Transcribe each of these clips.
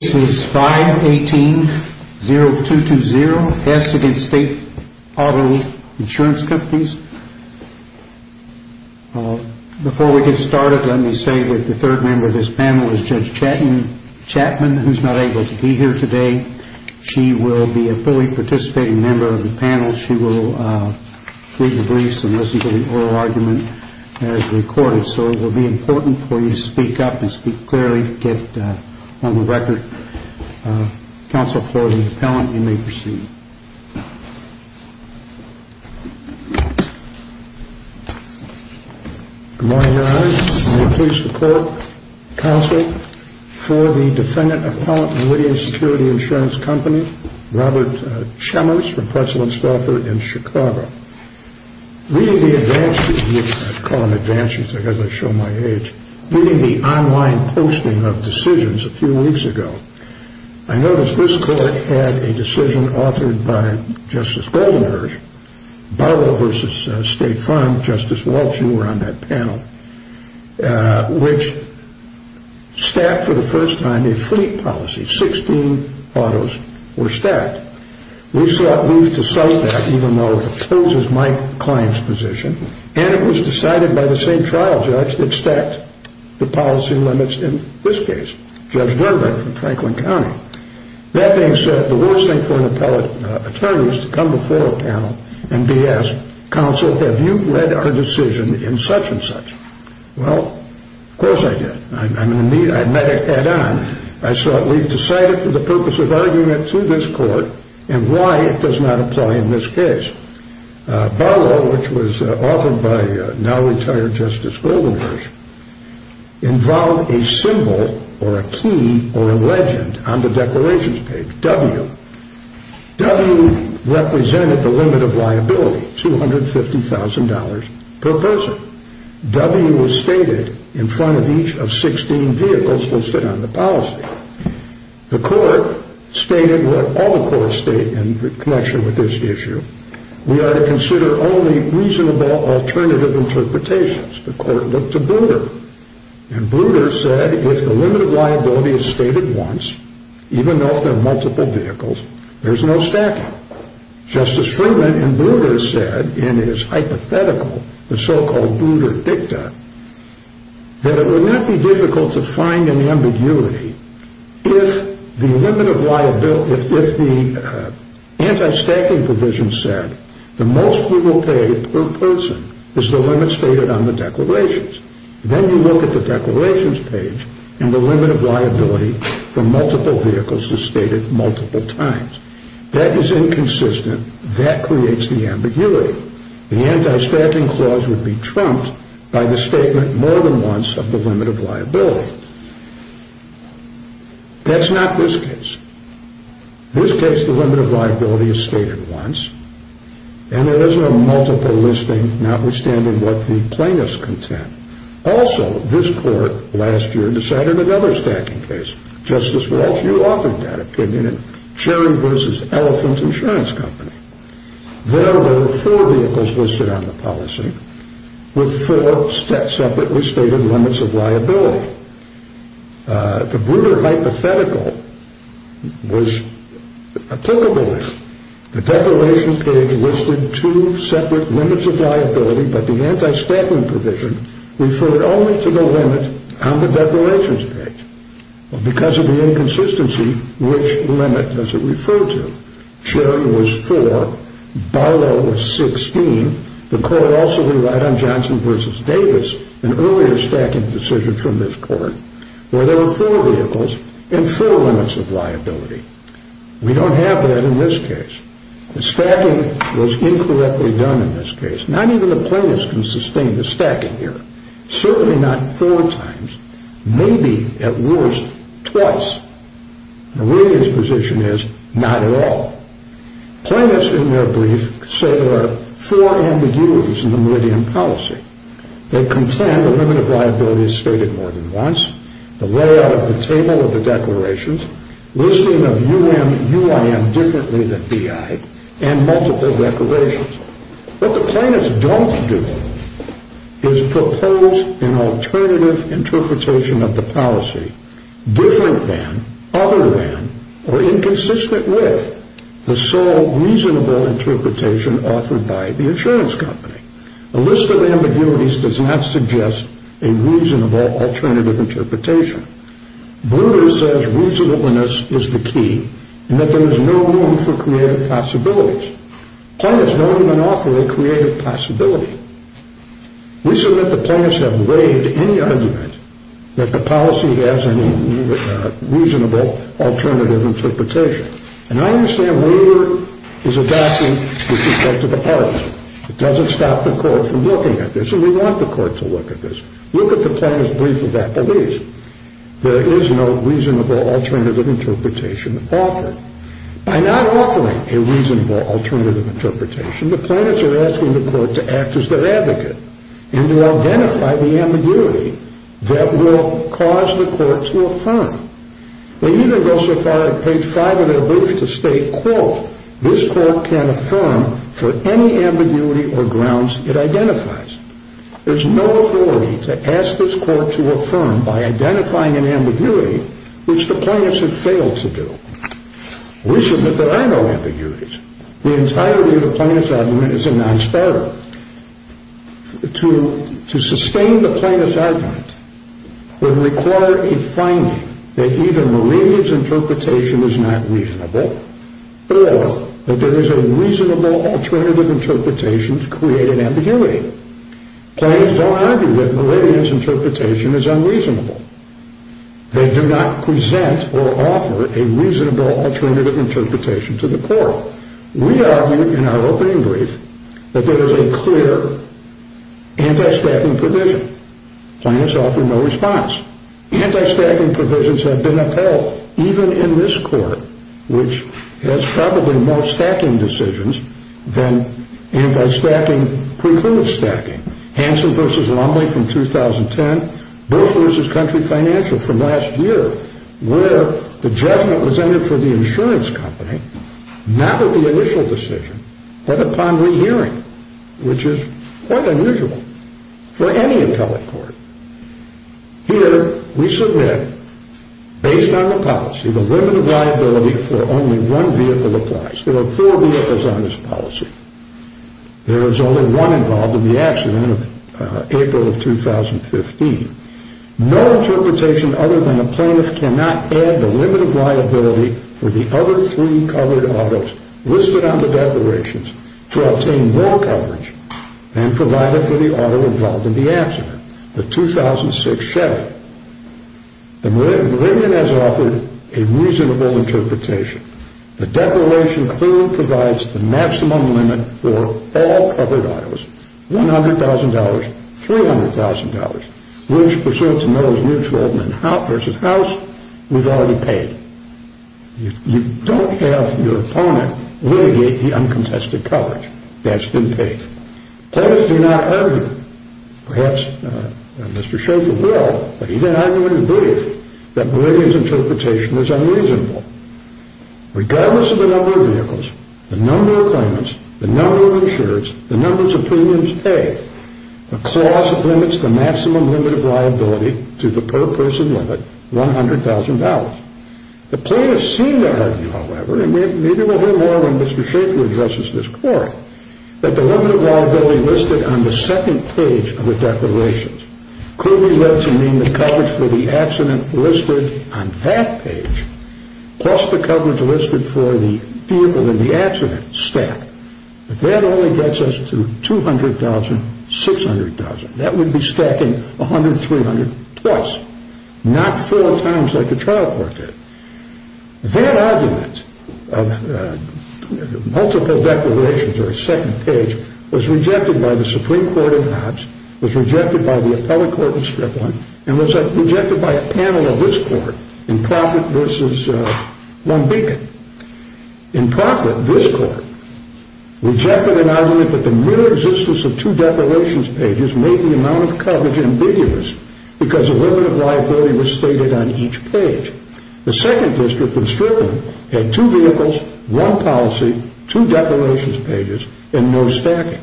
This is 518-0220, Hess v. State Auto Insurance Companies. Before we get started, let me say that the third member of this panel is Judge Chatman, who is not able to be here today. She will be a fully participating member of the panel. She will read the briefs and listen to the oral argument as recorded. So it will be important for you to speak up and speak clearly to get on the record. Counsel for the appellant, you may proceed. Good morning, Your Honor. I am pleased to call counsel for the defendant appellant in Whittier Security Insurance Company, Robert Chemmers from Pretzel & Stauffer in Chicago. Reading the online posting of decisions a few weeks ago, I noticed this court had a decision authored by Justice Goldenberg, Barlow v. State Farm, Justice Walsh, you were on that panel, which stacked for the first time a fleet policy. 16 autos were stacked. We sought leave to cite that, even though it opposes my client's position, and it was decided by the same trial judge that stacked the policy limits in this case, Judge Dornberg from Franklin County. That being said, the worst thing for an appellate attorney is to come before a panel and be asked, Counsel, have you led our decision in such and such? Well, of course I did. I met it head on. I sought leave to cite it for the purpose of arguing it to this court, and why it does not apply in this case. Barlow, which was authored by now-retired Justice Goldenberg, involved a symbol or a key or a legend on the declarations page, W. W represented the limit of liability, $250,000 per person. W was stated in front of each of 16 vehicles listed on the policy. The court stated what all the courts state in connection with this issue. We are to consider only reasonable alternative interpretations. The court looked to Bruder, and Bruder said if the limit of liability is stated once, even though if there are multiple vehicles, there is no stacking. Justice Friedman in Bruder said in his hypothetical, the so-called Bruder dicta, that it would not be difficult to find an ambiguity if the limit of liability, if the anti-stacking provision said the most we will pay per person is the limit stated on the declarations. Then you look at the declarations page and the limit of liability for multiple vehicles is stated multiple times. That is inconsistent. That creates the ambiguity. The anti-stacking clause would be trumped by the statement more than once of the limit of liability. That's not this case. In this case, the limit of liability is stated once, and there is no multiple listing, notwithstanding what the plaintiffs contend. Also, this court last year decided another stacking case. Justice Walsh, you authored that opinion in Cherry v. Elephant Insurance Company. There were four vehicles listed on the policy with four separately stated limits of liability. The Bruder hypothetical was applicable there. The declaration page listed two separate limits of liability, but the anti-stacking provision referred only to the limit on the declarations page. Because of the inconsistency, which limit does it refer to? Cherry was four. Barlow was 16. The court also relied on Johnson v. Davis, an earlier stacking decision from this court, where there were four vehicles and four limits of liability. We don't have that in this case. The stacking was incorrectly done in this case. Not even the plaintiffs can sustain the stacking here. Certainly not four times. Maybe, at worst, twice. Meridian's position is not at all. Plaintiffs, in their brief, say there are four ambiguities in the Meridian policy. They contend the limit of liability is stated more than once, the layout of the table of the declarations, listing of U.M. and U.I.M. differently than B.I., and multiple declarations. What the plaintiffs don't do is propose an alternative interpretation of the policy different than, other than, or inconsistent with the sole reasonable interpretation offered by the insurance company. A list of ambiguities does not suggest a reasonable alternative interpretation. Brewer says reasonableness is the key and that there is no room for creative possibilities. Plaintiffs don't even offer a creative possibility. We submit the plaintiffs have waived any argument that the policy has any reasonable alternative interpretation. And I understand Brewer is adapting with respect to the parties. It doesn't stop the court from looking at this, and we want the court to look at this. Look at the plaintiff's brief of that belief. There is no reasonable alternative interpretation offered. By not offering a reasonable alternative interpretation, the plaintiffs are asking the court to act as their advocate and to identify the ambiguity that will cause the court to affirm. They even go so far as page 5 of their brief to state, quote, this court can affirm for any ambiguity or grounds it identifies. There's no authority to ask this court to affirm by identifying an ambiguity, which the plaintiffs have failed to do. We submit that I know ambiguities. The entirety of the plaintiff's argument is a non-sparrow. To sustain the plaintiff's argument would require a finding that either Malinia's interpretation is not reasonable or that there is a reasonable alternative interpretation to create an ambiguity. Plaintiffs don't argue that Malinia's interpretation is unreasonable. They do not present or offer a reasonable alternative interpretation to the court. We argue in our opening brief that there is a clear anti-stacking provision. Plaintiffs offer no response. Anti-stacking provisions have been upheld, even in this court, which has probably more stacking decisions than anti-stacking precludes stacking. Hansen v. Longley from 2010, Booth v. Country Financial from last year, where the judgment was entered for the insurance company, not with the initial decision, but upon rehearing, which is quite unusual for any appellate court. Here, we submit, based on the policy, the limit of liability for only one vehicle applies. There are four vehicles on this policy. There is only one involved in the accident in April of 2015. No interpretation other than a plaintiff cannot add the limit of liability for the other three covered autos listed on the declarations to obtain more coverage and provide it for the auto involved in the accident. The 2006 settlement. Malinia has offered a reasonable interpretation. The declaration clearly provides the maximum limit for all covered autos, $100,000, $300,000, which pursuant to Miller v. House, was already paid. You don't have your opponent litigate the uncompensated coverage. That's been paid. Plaintiffs do not argue, perhaps Mr. Schofield will, but he did argue in his brief that Malinia's interpretation was unreasonable. Regardless of the number of vehicles, the number of claimants, the number of insurers, the numbers of premiums paid, the clause limits the maximum limit of liability to the per-person limit, $100,000. The plaintiffs seem to argue, however, and maybe we'll hear more when Mr. Schofield addresses this court, that the limit of liability listed on the second page of the declarations clearly lets him name the coverage for the accident listed on that page plus the coverage listed for the vehicle in the accident stack. But that only gets us to $200,000, $600,000. That would be stacking $100,000, $300,000 twice, not four times like the trial court did. That argument of multiple declarations or a second page was rejected by the Supreme Court at Hobbs, was rejected by the appellate court in Strickland, and was rejected by a panel of this court in Proffitt v. Long Beacon. In Proffitt, this court rejected an argument that the mere existence of two declarations pages made the amount of coverage ambiguous because a limit of liability was stated on each page. The second district in Strickland had two vehicles, one policy, two declarations pages, and no stacking.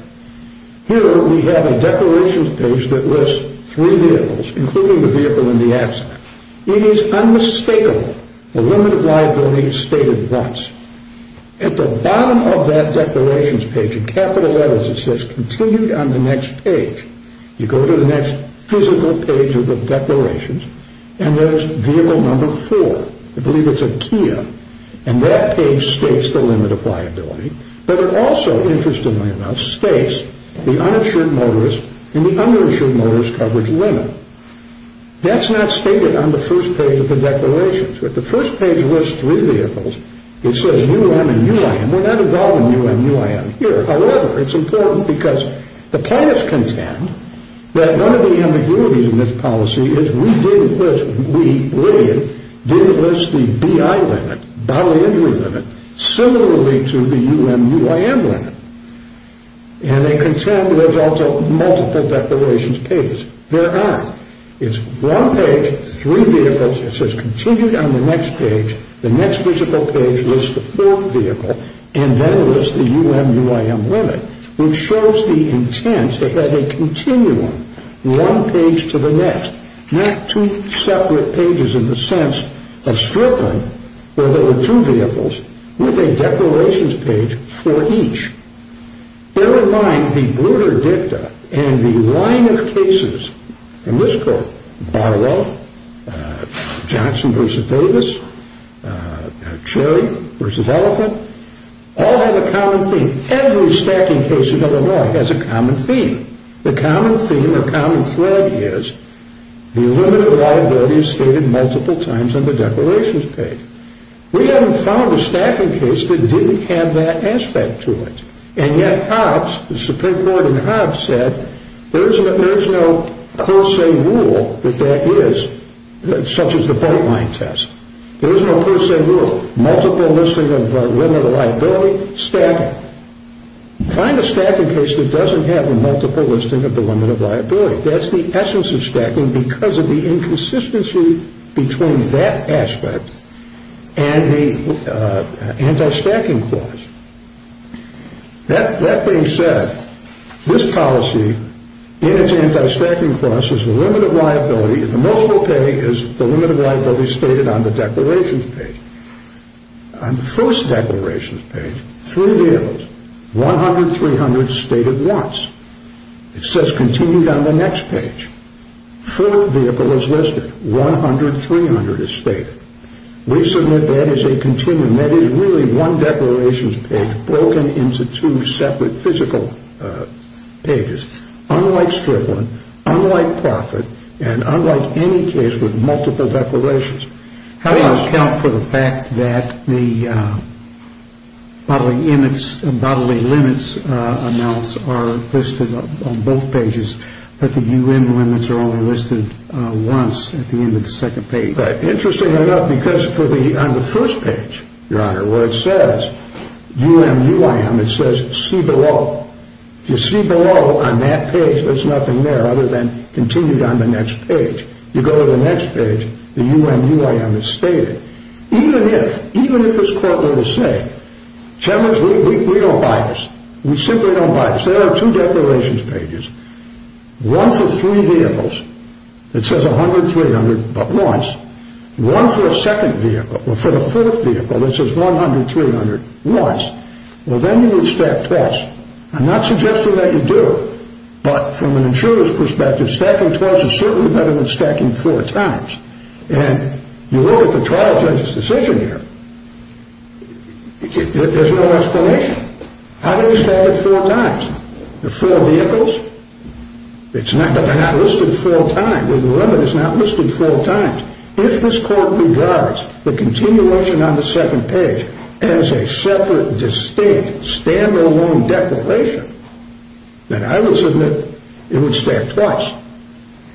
Here we have a declarations page that lists three vehicles, including the vehicle in the accident. It is unmistakable the limit of liability is stated once. At the bottom of that declarations page, in capital letters it says, continue on the next page. You go to the next physical page of the declarations, and there's vehicle number four. I believe it's a Kia, and that page states the limit of liability. But it also, interestingly enough, states the uninsured motorist and the uninsured motorist coverage limit. That's not stated on the first page of the declarations. If the first page lists three vehicles, it says U.M. and U.I.M. We're not involved in U.M. and U.I.M. here. However, it's important because the plaintiffs contend that one of the ambiguities in this policy is we did list the B.I. limit, bodily injury limit, similarly to the U.M. and U.I.M. limit. And they contend there's also multiple declarations pages. There are. It's one page, three vehicles. It says continue on the next page. The next physical page lists the fourth vehicle, and then it lists the U.M. and U.I.M. limit, which shows the intent to have a continuum, one page to the next, not two separate pages in the sense of stripping, where there were two vehicles, with a declarations page for each. Bear in mind the Bruder Dicta and the line of cases in this court, Barlow, Johnson v. Davis, Cherry v. Ellicott, all have a common theme. Every stacking case in Illinois has a common theme. The common theme or common thread is the limited liability is stated multiple times on the declarations page. We haven't found a stacking case that didn't have that aspect to it. And yet Hobbs, the Supreme Court in Hobbs, said there is no per se rule that that is, such as the boatline test. There is no per se rule. Multiple listing of limited liability, find a stacking case that doesn't have a multiple listing of the limited liability. That's the essence of stacking, because of the inconsistency between that aspect and the anti-stacking clause. That being said, this policy, in its anti-stacking clause, is the limited liability, the multiple pay is the limited liability stated on the declarations page. On the first declarations page, three vehicles, 100, 300, stated once. It says continued on the next page. Fourth vehicle is listed. 100, 300 is stated. We submit that as a continuum. That is really one declarations page broken into two separate physical pages. Unlike stripling, unlike profit, and unlike any case with multiple declarations. How do you account for the fact that the bodily limits amounts are listed on both pages, but the U.N. limits are only listed once at the end of the second page? Interesting enough, because on the first page, your honor, where it says U.M. U.I.M., it says see below. You see below on that page, there's nothing there other than continued on the next page. You go to the next page, the U.M. U.I.M. is stated. Even if, even if it's quote, let us say, Chairman, we don't buy this. We simply don't buy this. There are two declarations pages. One for three vehicles. It says 100, 300, but once. One for a second vehicle, or for the fourth vehicle, that says 100, 300, once. Well, then you would stack twice. I'm not suggesting that you do, but from an insurer's perspective, stacking twice is certainly better than stacking four times. And you look at the trial judge's decision here, there's no explanation. How do you stack it four times? The four vehicles? It's not that they're not listed four times. The limit is not listed four times. If this court regards the continued motion on the second page as a separate, distinct, stand-alone declaration, then I would submit it would stack twice.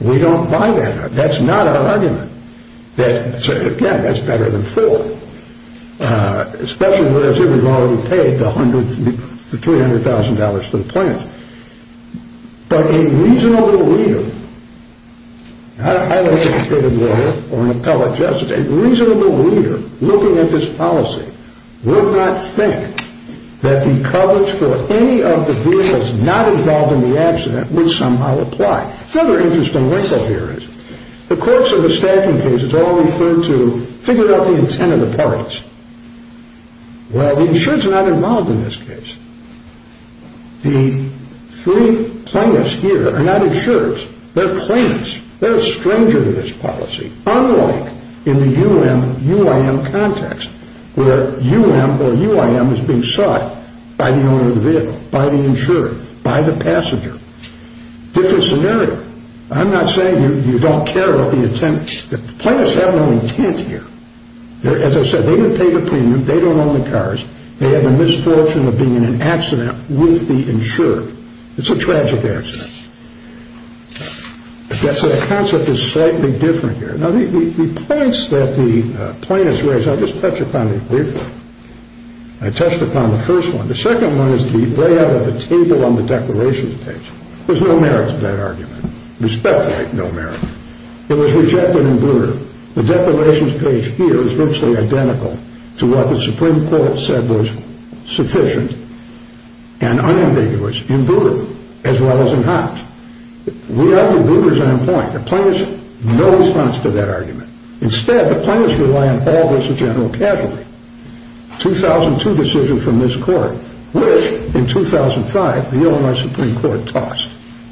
We don't buy that. That's not our argument. That, again, that's better than four. Especially if we've already paid the $300,000 to the plaintiff. But a reasonable leader, I don't think it's David Miller or an appellate justice, a reasonable leader looking at this policy would not think that the coverage for any of the vehicles not involved in the accident would somehow apply. Another interesting wrinkle here is the courts in the stacking case has all referred to figuring out the intent of the parties. Well, the insurers are not involved in this case. The three plaintiffs here are not insurers. They're plaintiffs. They're a stranger to this policy, unlike in the UIM context where UIM is being sought by the owner of the vehicle, by the insurer, by the passenger. Different scenario. I'm not saying you don't care about the intent. The plaintiffs have no intent here. As I said, they didn't pay the premium. They don't own the cars. They had the misfortune of being in an accident with the insurer. It's a tragic accident. The concept is slightly different here. Now, the points that the plaintiffs raised, I'll just touch upon it briefly. I touched upon the first one. The second one is the layout of the table on the declaration page. There's no merit to that argument. We speculate no merit. It was rejected in Brewer. The declarations page here is virtually identical to what the Supreme Court said was sufficient and unambiguous in Brewer as well as in Hobbs. We argue Brewer's on point. The plaintiffs have no response to that argument. Instead, the plaintiffs rely on all this as general casualty. 2002 decision from this Court, which in 2005 the Illinois Supreme Court tossed.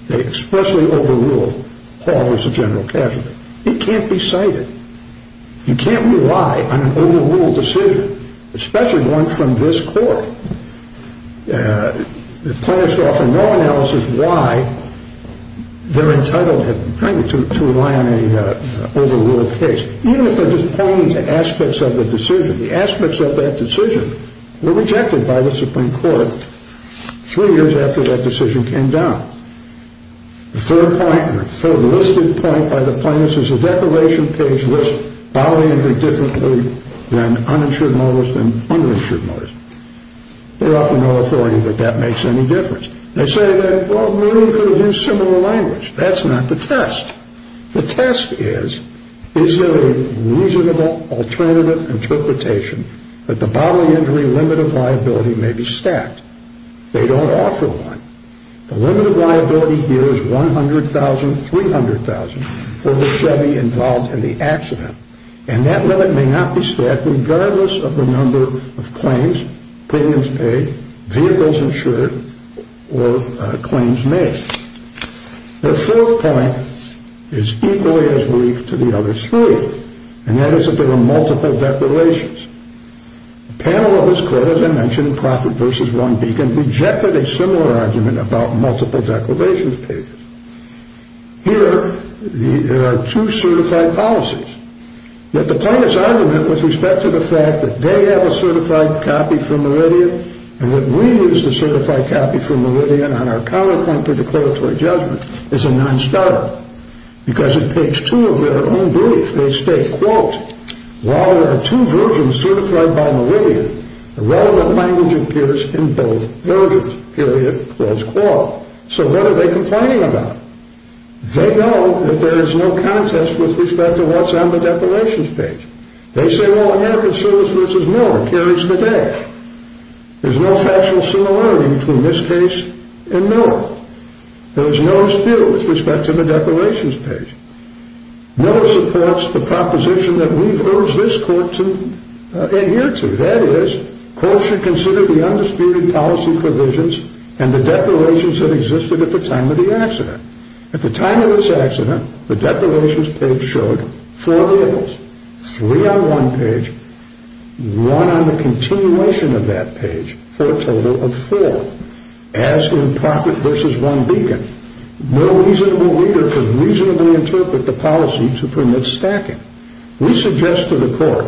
They expressly overruled Paul as a general casualty. It can't be cited. You can't rely on an overruled decision, especially one from this Court. The plaintiffs offer no analysis why they're entitled to rely on an overruled case, even if they're just pointing to aspects of the decision. The aspects of that decision were rejected by the Supreme Court three years after that decision came down. The third point, or the listed point by the plaintiffs, is the declaration page lists bodily and indifferently than uninsured mortis and uninsured mortis. They offer no authority that that makes any difference. They say that, well, maybe we could have used similar language. That's not the test. The test is, is there a reasonable alternative interpretation that the bodily injury limit of liability may be stacked? They don't offer one. The limit of liability here is $100,000, $300,000 for the Chevy involved in the accident, and that limit may not be stacked regardless of the number of claims, premiums paid, vehicles insured, or claims made. The fourth point is equally as weak to the other three, and that is that there are multiple declarations. The panel of this Court, as I mentioned, in Prophet v. One Beacon rejected a similar argument about multiple declarations pages. Here, there are two certified policies. That the plaintiff's argument with respect to the fact that they have a certified copy for Meridian and that we use the certified copy for Meridian on our counterpoint to declaratory judgment is a non-starter because in page two of their own brief, they state, quote, while there are two versions certified by Meridian, the relevant language appears in both versions, period, clause, quote. So what are they complaining about? They know that there is no contest with respect to what's on the declarations page. They say, well, American Service vs. Moore carries the day. There's no factual similarity between this case and Miller. There's no dispute with respect to the declarations page. Miller supports the proposition that we've urged this Court to adhere to. That is, courts should consider the undisputed policy provisions and the declarations that existed at the time of the accident. At the time of this accident, the declarations page showed four vehicles, three on one page, one on the continuation of that page for a total of four. As in Profit vs. One Beacon, no reasonable reader can reasonably interpret the policy to permit stacking. We suggest to the Court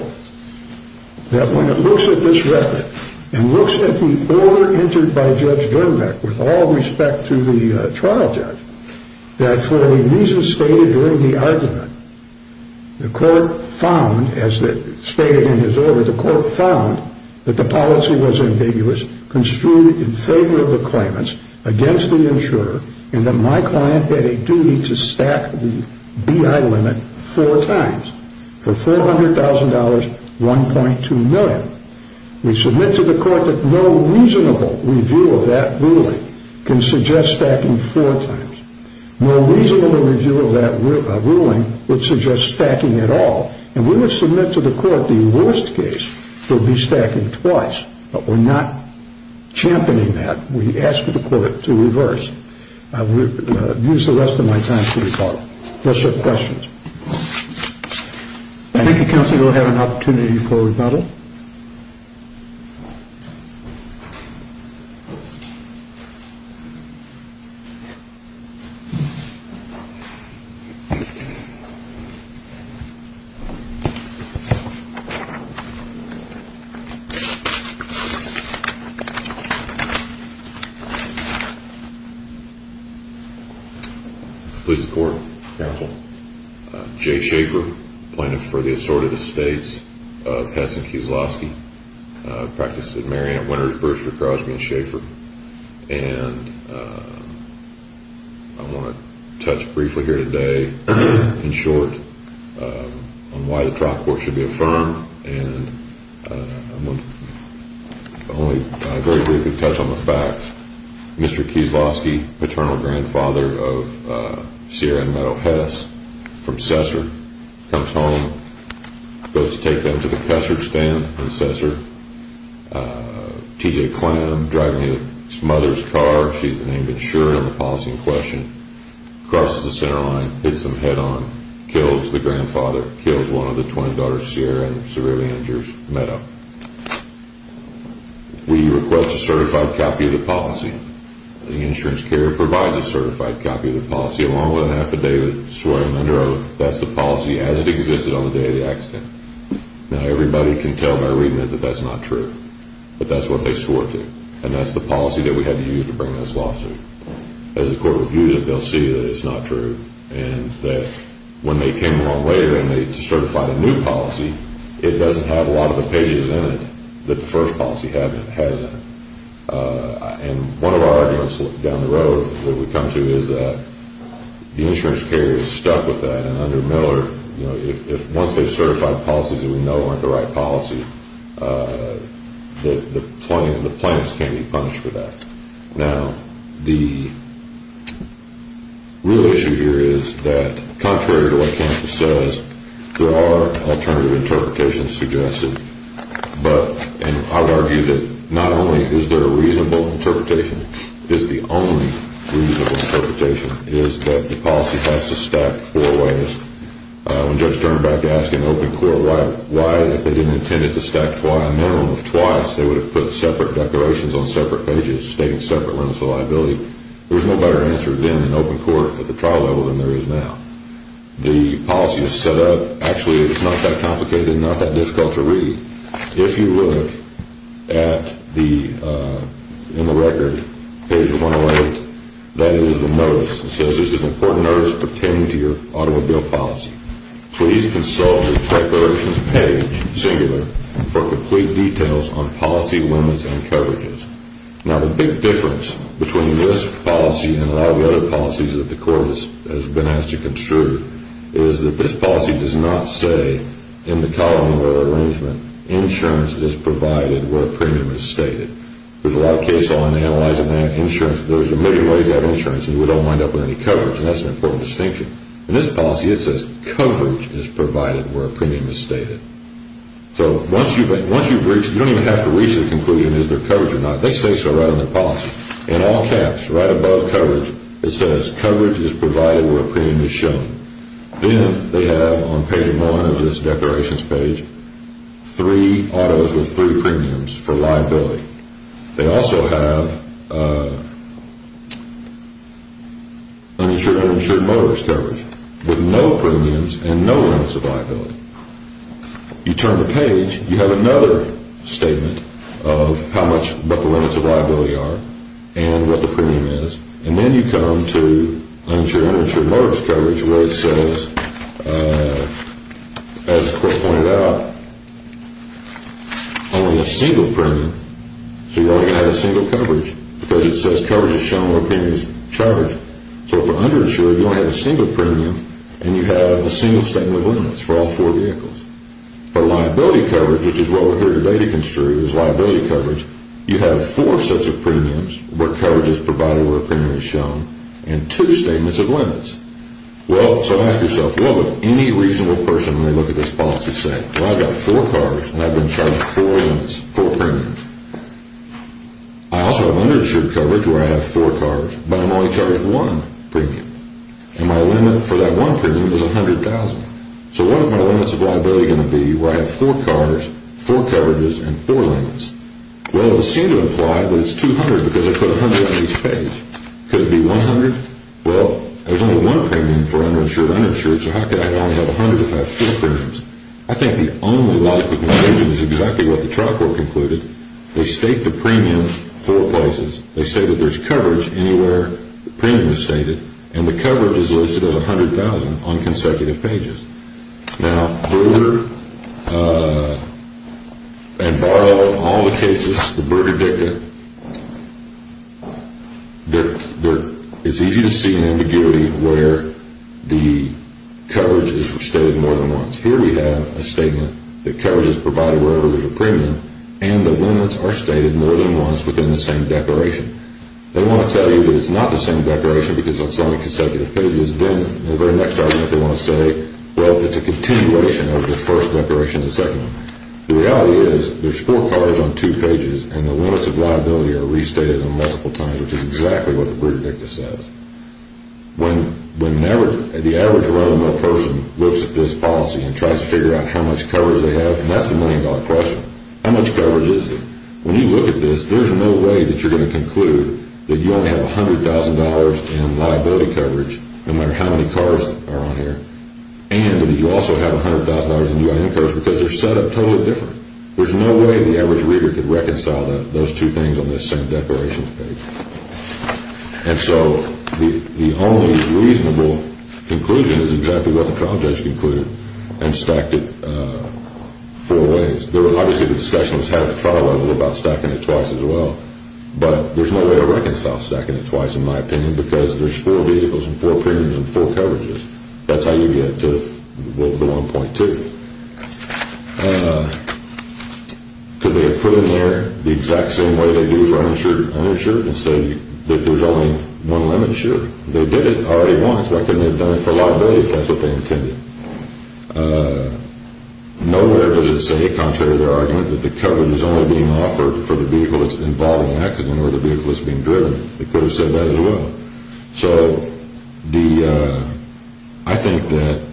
that when it looks at this record and looks at the order entered by Judge Dermbeck with all respect to the trial judge, that for the reasons stated during the argument, the Court found, as stated in his order, the Court found that the policy was ambiguous, construed in favor of the claimants, against the insurer, and that my client had a duty to stack the B.I. limit four times for $400,000, 1.2 million. We submit to the Court that no reasonable review of that ruling can suggest stacking four times. No reasonable review of that ruling would suggest stacking at all, and we would submit to the Court the worst case would be stacking twice, but we're not championing that. We ask the Court to reverse. I will use the rest of my time to recall. Those are the questions. Thank you, Counsel. We'll have an opportunity for rebuttal. Thank you. Please report, Counsel. Jay Schaefer, plaintiff for the assorted estates of Hess and Kieslowski, practiced at Mary Ann Winters, Brewster, Crosby, and Schaefer. And I want to touch briefly here today, in short, on why the trial court should be affirmed. And I want to only very briefly touch on the facts. Mr. Kieslowski, paternal grandfather of Sierra and Meadow Hess from Cessar, comes home, goes to take them to the Cussard stand in Cessar. T.J. Clam driving his mother's car, she's the name that's sure in the policy in question, crosses the center line, hits them head-on, kills the grandfather, kills one of the twin daughters, Sierra, and severely injures Meadow. We request a certified copy of the policy. The insurance carrier provides a certified copy of the policy, along with an affidavit swearing under oath that's the policy as it existed on the day of the accident. Now, everybody can tell by reading it that that's not true, but that's what they swore to. And that's the policy that we had to use to bring this lawsuit. As the court reviews it, they'll see that it's not true, and that when they came along later and they certified a new policy, it doesn't have a lot of the pages in it that the first policy has in it. And one of our arguments down the road that we come to is that the insurance carrier is stuck with that, and under Miller, once they've certified policies that we know aren't the right policy, the plaintiffs can't be punished for that. Now, the real issue here is that, contrary to what Kansas says, there are alternative interpretations suggested. But I would argue that not only is there a reasonable interpretation, it's the only reasonable interpretation, is that the policy has to stack four ways. When Judge Sternbeck asked an open court why, if they didn't intend it to stack a minimum of twice, they would have put separate declarations on separate pages stating separate limits of liability. There's no better answer then in open court at the trial level than there is now. The policy is set up. Actually, it's not that complicated and not that difficult to read. If you look in the record, page 108, that is the notice. It says this is an important notice pertaining to your automobile policy. Please consult the declarations page, singular, for complete details on policy limits and coverages. Now, the big difference between this policy and a lot of the other policies that the court has been asked to construe is that this policy does not say in the column of our arrangement, insurance is provided where premium is stated. There's a lot of case law in analyzing that insurance. There's a million ways to have insurance, and we don't wind up with any coverage, and that's an important distinction. In this policy, it says coverage is provided where premium is stated. So once you've reached, you don't even have to reach the conclusion is there coverage or not. They say so right on their policy. In all caps, right above coverage, it says coverage is provided where premium is shown. Then they have on page one of this declarations page three autos with three premiums for liability. They also have uninsured and uninsured motorist coverage with no premiums and no limits of liability. You turn the page, you have another statement of how much the limits of liability are and what the premium is, and then you come to uninsured and uninsured motorist coverage where it says, as Chris pointed out, I want a single premium. So you're only going to have a single coverage because it says coverage is shown where premium is charged. So for uninsured, you only have a single premium, and you have a single statement of limits for all four vehicles. For liability coverage, which is what we're here today to construe is liability coverage, you have four sets of premiums where coverage is provided where premium is shown and two statements of limits. So ask yourself, what would any reasonable person when they look at this policy say? Well, I've got four cars, and I've been charged four premiums. I also have uninsured coverage where I have four cars, but I'm only charged one premium, and my limit for that one premium is $100,000. So what are my limits of liability going to be where I have four cars, four coverages, and four limits? Well, it would seem to imply that it's $200,000 because I put $100,000 on each page. Could it be $100,000? Well, there's only one premium for uninsured and uninsured, so how could I only have $100,000 if I have four premiums? I think the only liability conclusion is exactly what the trial court concluded. They state the premium four places. They say that there's coverage anywhere premium is stated, and the coverage is listed as $100,000 on consecutive pages. Now, Berger and Barlow, all the cases, the Berger dicta, it's easy to see an ambiguity where the coverage is stated more than once. Here we have a statement that coverage is provided wherever there's a premium, and the limits are stated more than once within the same declaration. They want to tell you that it's not the same declaration because on some consecutive pages, then in the very next argument they want to say, well, it's a continuation of the first declaration and the second one. The reality is there's four cars on two pages, and the limits of liability are restated on multiple times, which is exactly what the Berger dicta says. When the average run-of-the-mill person looks at this policy and tries to figure out how much coverage they have, that's the million-dollar question. How much coverage is there? When you look at this, there's no way that you're going to conclude that you only have $100,000 in liability coverage, no matter how many cars are on here, and that you also have $100,000 in UIN coverage because they're set up totally different. There's no way the average reader could reconcile those two things on the same declaration page. And so the only reasonable conclusion is exactly what the trial judge concluded and stacked it four ways. Obviously, the discussion was had at the trial level about stacking it twice as well, but there's no way to reconcile stacking it twice, in my opinion, because there's four vehicles and four premiums and four coverages. That's how you get to the 1.2. Could they have put in there the exact same way they do for uninsured and say that there's only one limit? Sure. They did it already once. Why couldn't they have done it for a lot of days if that's what they intended? Nowhere does it say, contrary to their argument, that the coverage is only being offered for the vehicle that's involved in the accident or the vehicle that's being driven. They could have said that as well. So I think that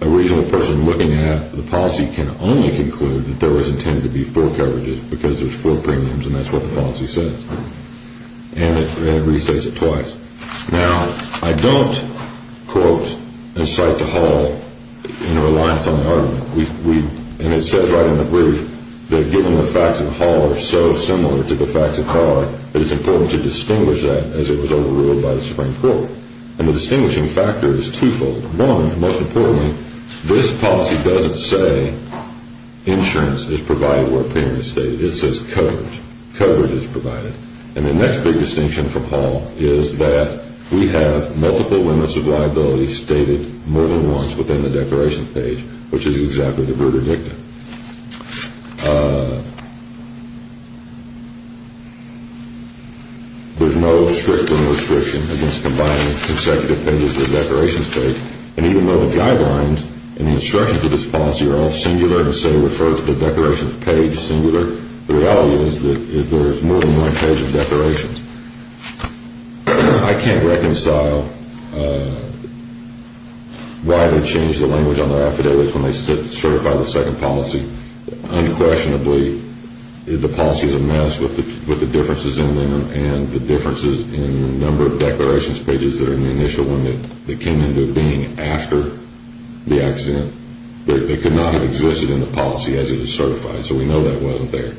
a reasonable person looking at the policy can only conclude that there was intended to be four coverages because there's four premiums, and that's what the policy says. And it restates it twice. Now, I don't, quote, incite the whole reliance on the argument. And it says right in the brief that given the facts of the whole are so similar to the facts of the whole, it is important to distinguish that as it was overruled by the Supreme Court. And the distinguishing factor is twofold. One, most importantly, this policy doesn't say insurance is provided where a premium is stated. It says coverage. Coverage is provided. And the next big distinction from Hall is that we have multiple limits of liability stated more than once within the declaration page, which is exactly the verdict. There's no strict restriction against combining consecutive pages of the declarations page. And even though the guidelines and the instructions of this policy are all singular and say refer to the declarations page singular, the reality is that there is more than one page of declarations. I can't reconcile why they changed the language on their affidavits when they certified the second policy. Unquestionably, the policy is a mess with the differences in them and the differences in the number of declarations pages that are in the initial one that came into being after the accident. They could not have existed in the policy as it is certified. So we know that wasn't there.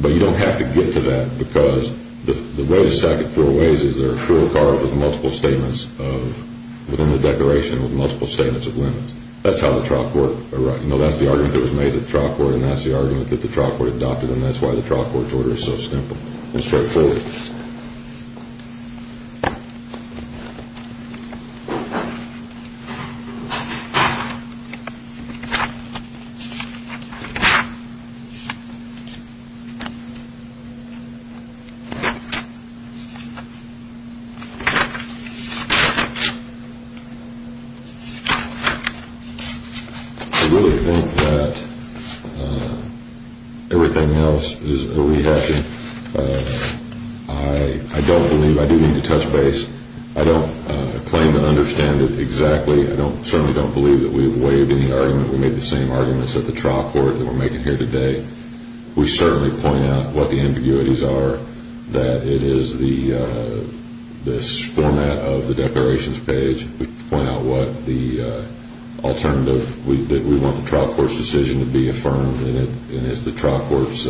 But you don't have to get to that because the way to stack it four ways is there are four cards with multiple statements of, within the declaration, with multiple statements of limits. That's how the trial court, you know, that's the argument that was made to the trial court and that's the argument that the trial court adopted and that's why the trial court's order is so simple and straightforward. I really think that everything else is a rehashing. I don't believe, I do need to touch base. I don't claim to understand it exactly. I certainly don't believe that we have waived any argument. We made the same arguments at the trial court that we're making here today. We certainly point out what the ambiguities are, that it is this format of the declarations page. We point out what the alternative, that we want the trial court's decision to be affirmed and it's the trial court's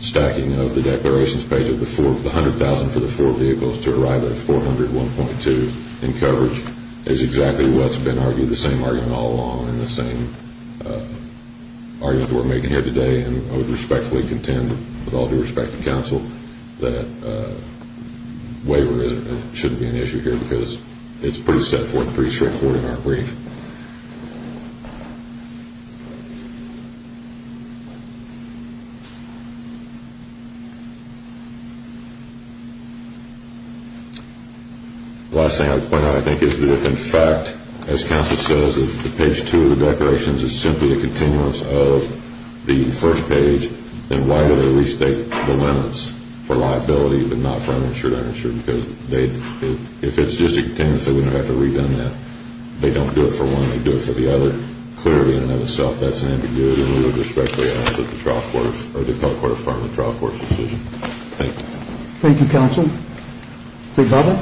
stacking of the declarations page of the 100,000 for the four vehicles to arrive at 400, 1.2 in coverage is exactly what's been argued, the same argument all along and the same argument we're making here today and I would respectfully contend with all due respect to counsel that waiver shouldn't be an issue here because it's pretty straightforward and pretty straightforward in our brief. The last thing I would point out I think is that if in fact, as counsel says, the page two of the declarations is simply a continuance of the first page, then why do they restate the limits for liability but not for uninsured, uninsured? Because if it's just a continuance, they wouldn't have to redone that. They don't do it for one, they do it for the other. Clearly in and of itself, that's an ambiguity and we would respectfully ask that the trial court or the court affirm the trial court's decision. Thank you. Thank you, counsel. Big bubble?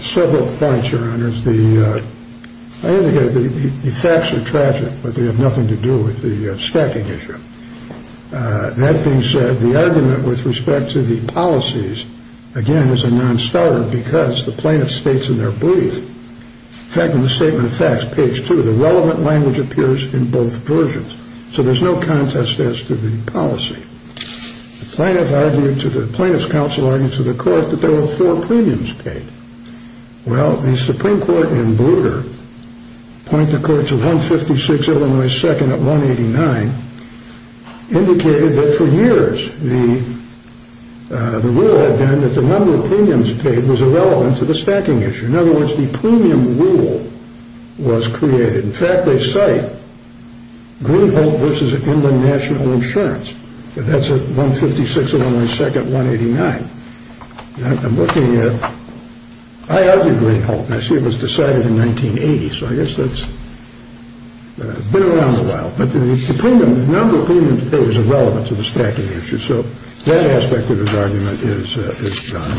Several points, Your Honors. The facts are tragic but they have nothing to do with the stacking issue. That being said, the argument with respect to the policies, again, is a non-starter because the plaintiff states in their brief, in fact in the statement of facts, page two, the relevant language appears in both versions. So there's no contest as to the policy. The plaintiff's counsel argued to the court that there were four premiums paid. Well, the Supreme Court in Bluter pointed the court to 156 Illinois 2nd at 189, indicated that for years the rule had been that the number of premiums paid was irrelevant to the stacking issue. In other words, the premium rule was created. In fact, they cite Greenholt v. Inland National Insurance. That's at 156 Illinois 2nd, 189. I'm looking at, I argue Greenholt, and I see it was decided in 1980, so I guess that's been around a while. But the number of premiums paid is irrelevant to the stacking issue. So that aspect of his argument is gone.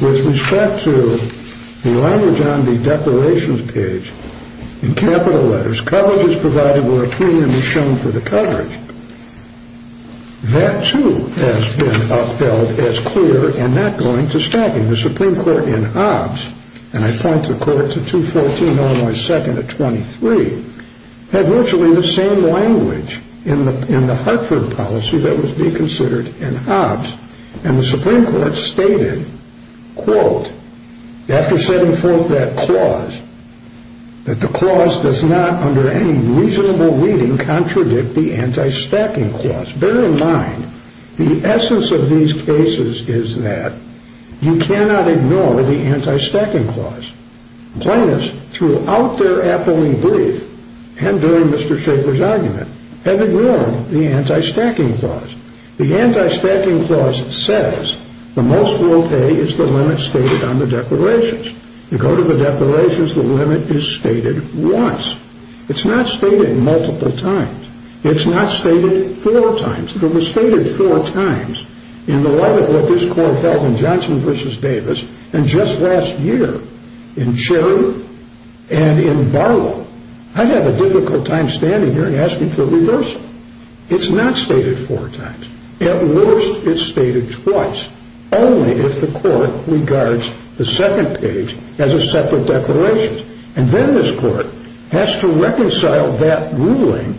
With respect to the language on the declarations page in capital letters, coverage is provided where a premium is shown for the coverage. That, too, has been upheld as clear and not going to stacking. The Supreme Court in Hobbs, and I point the court to 214 Illinois 2nd at 23, had virtually the same language in the Hartford policy that was being considered in Hobbs. And the Supreme Court stated, quote, After setting forth that clause, that the clause does not, under any reasonable reading, contradict the anti-stacking clause. Bear in mind, the essence of these cases is that you cannot ignore the anti-stacking clause. Plaintiffs, throughout their appellee brief and during Mr. Shaffer's argument, have ignored the anti-stacking clause. The anti-stacking clause says the most we'll pay is the limit stated on the declarations. You go to the declarations, the limit is stated once. It's not stated multiple times. It's not stated four times. If it was stated four times in the light of what this court held in Johnson v. Davis, and just last year in Cherry and in Barlow, it's not stated four times. At worst, it's stated twice. Only if the court regards the second page as a separate declaration. And then this court has to reconcile that ruling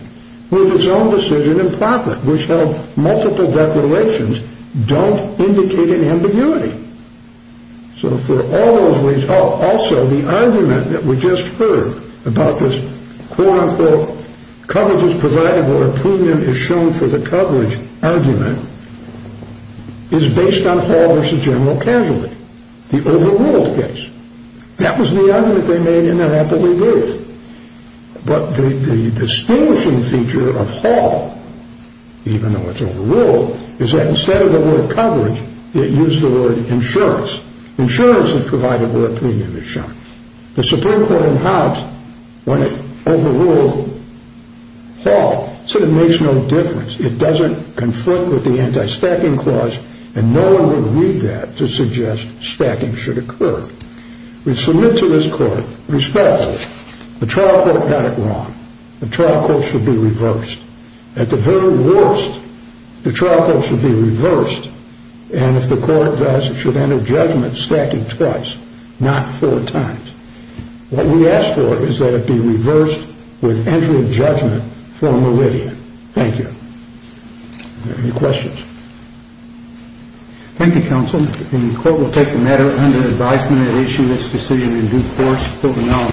with its own decision in Proctor, which held multiple declarations don't indicate an ambiguity. So for all those reasons, also the argument that we just heard about this quote-unquote coverage is provided where a premium is shown for the coverage argument is based on Hall v. General Casualty, the overruled case. That was the argument they made in their appellee brief. But the distinguishing feature of Hall, even though it's overruled, is that instead of the word coverage, it used the word insurance. Insurance is provided where a premium is shown. The Supreme Court in House, when it overruled Hall, said it makes no difference. It doesn't confront with the anti-stacking clause, and no one would read that to suggest stacking should occur. We submit to this court, respectfully, the trial court got it wrong. The trial court should be reversed. And if the court does, it should enter judgment stacking twice, not four times. What we ask for is that it be reversed with entering judgment for a meridian. Thank you. Any questions? Thank you, counsel. The court will take the matter under advisement and issue its decision in due course.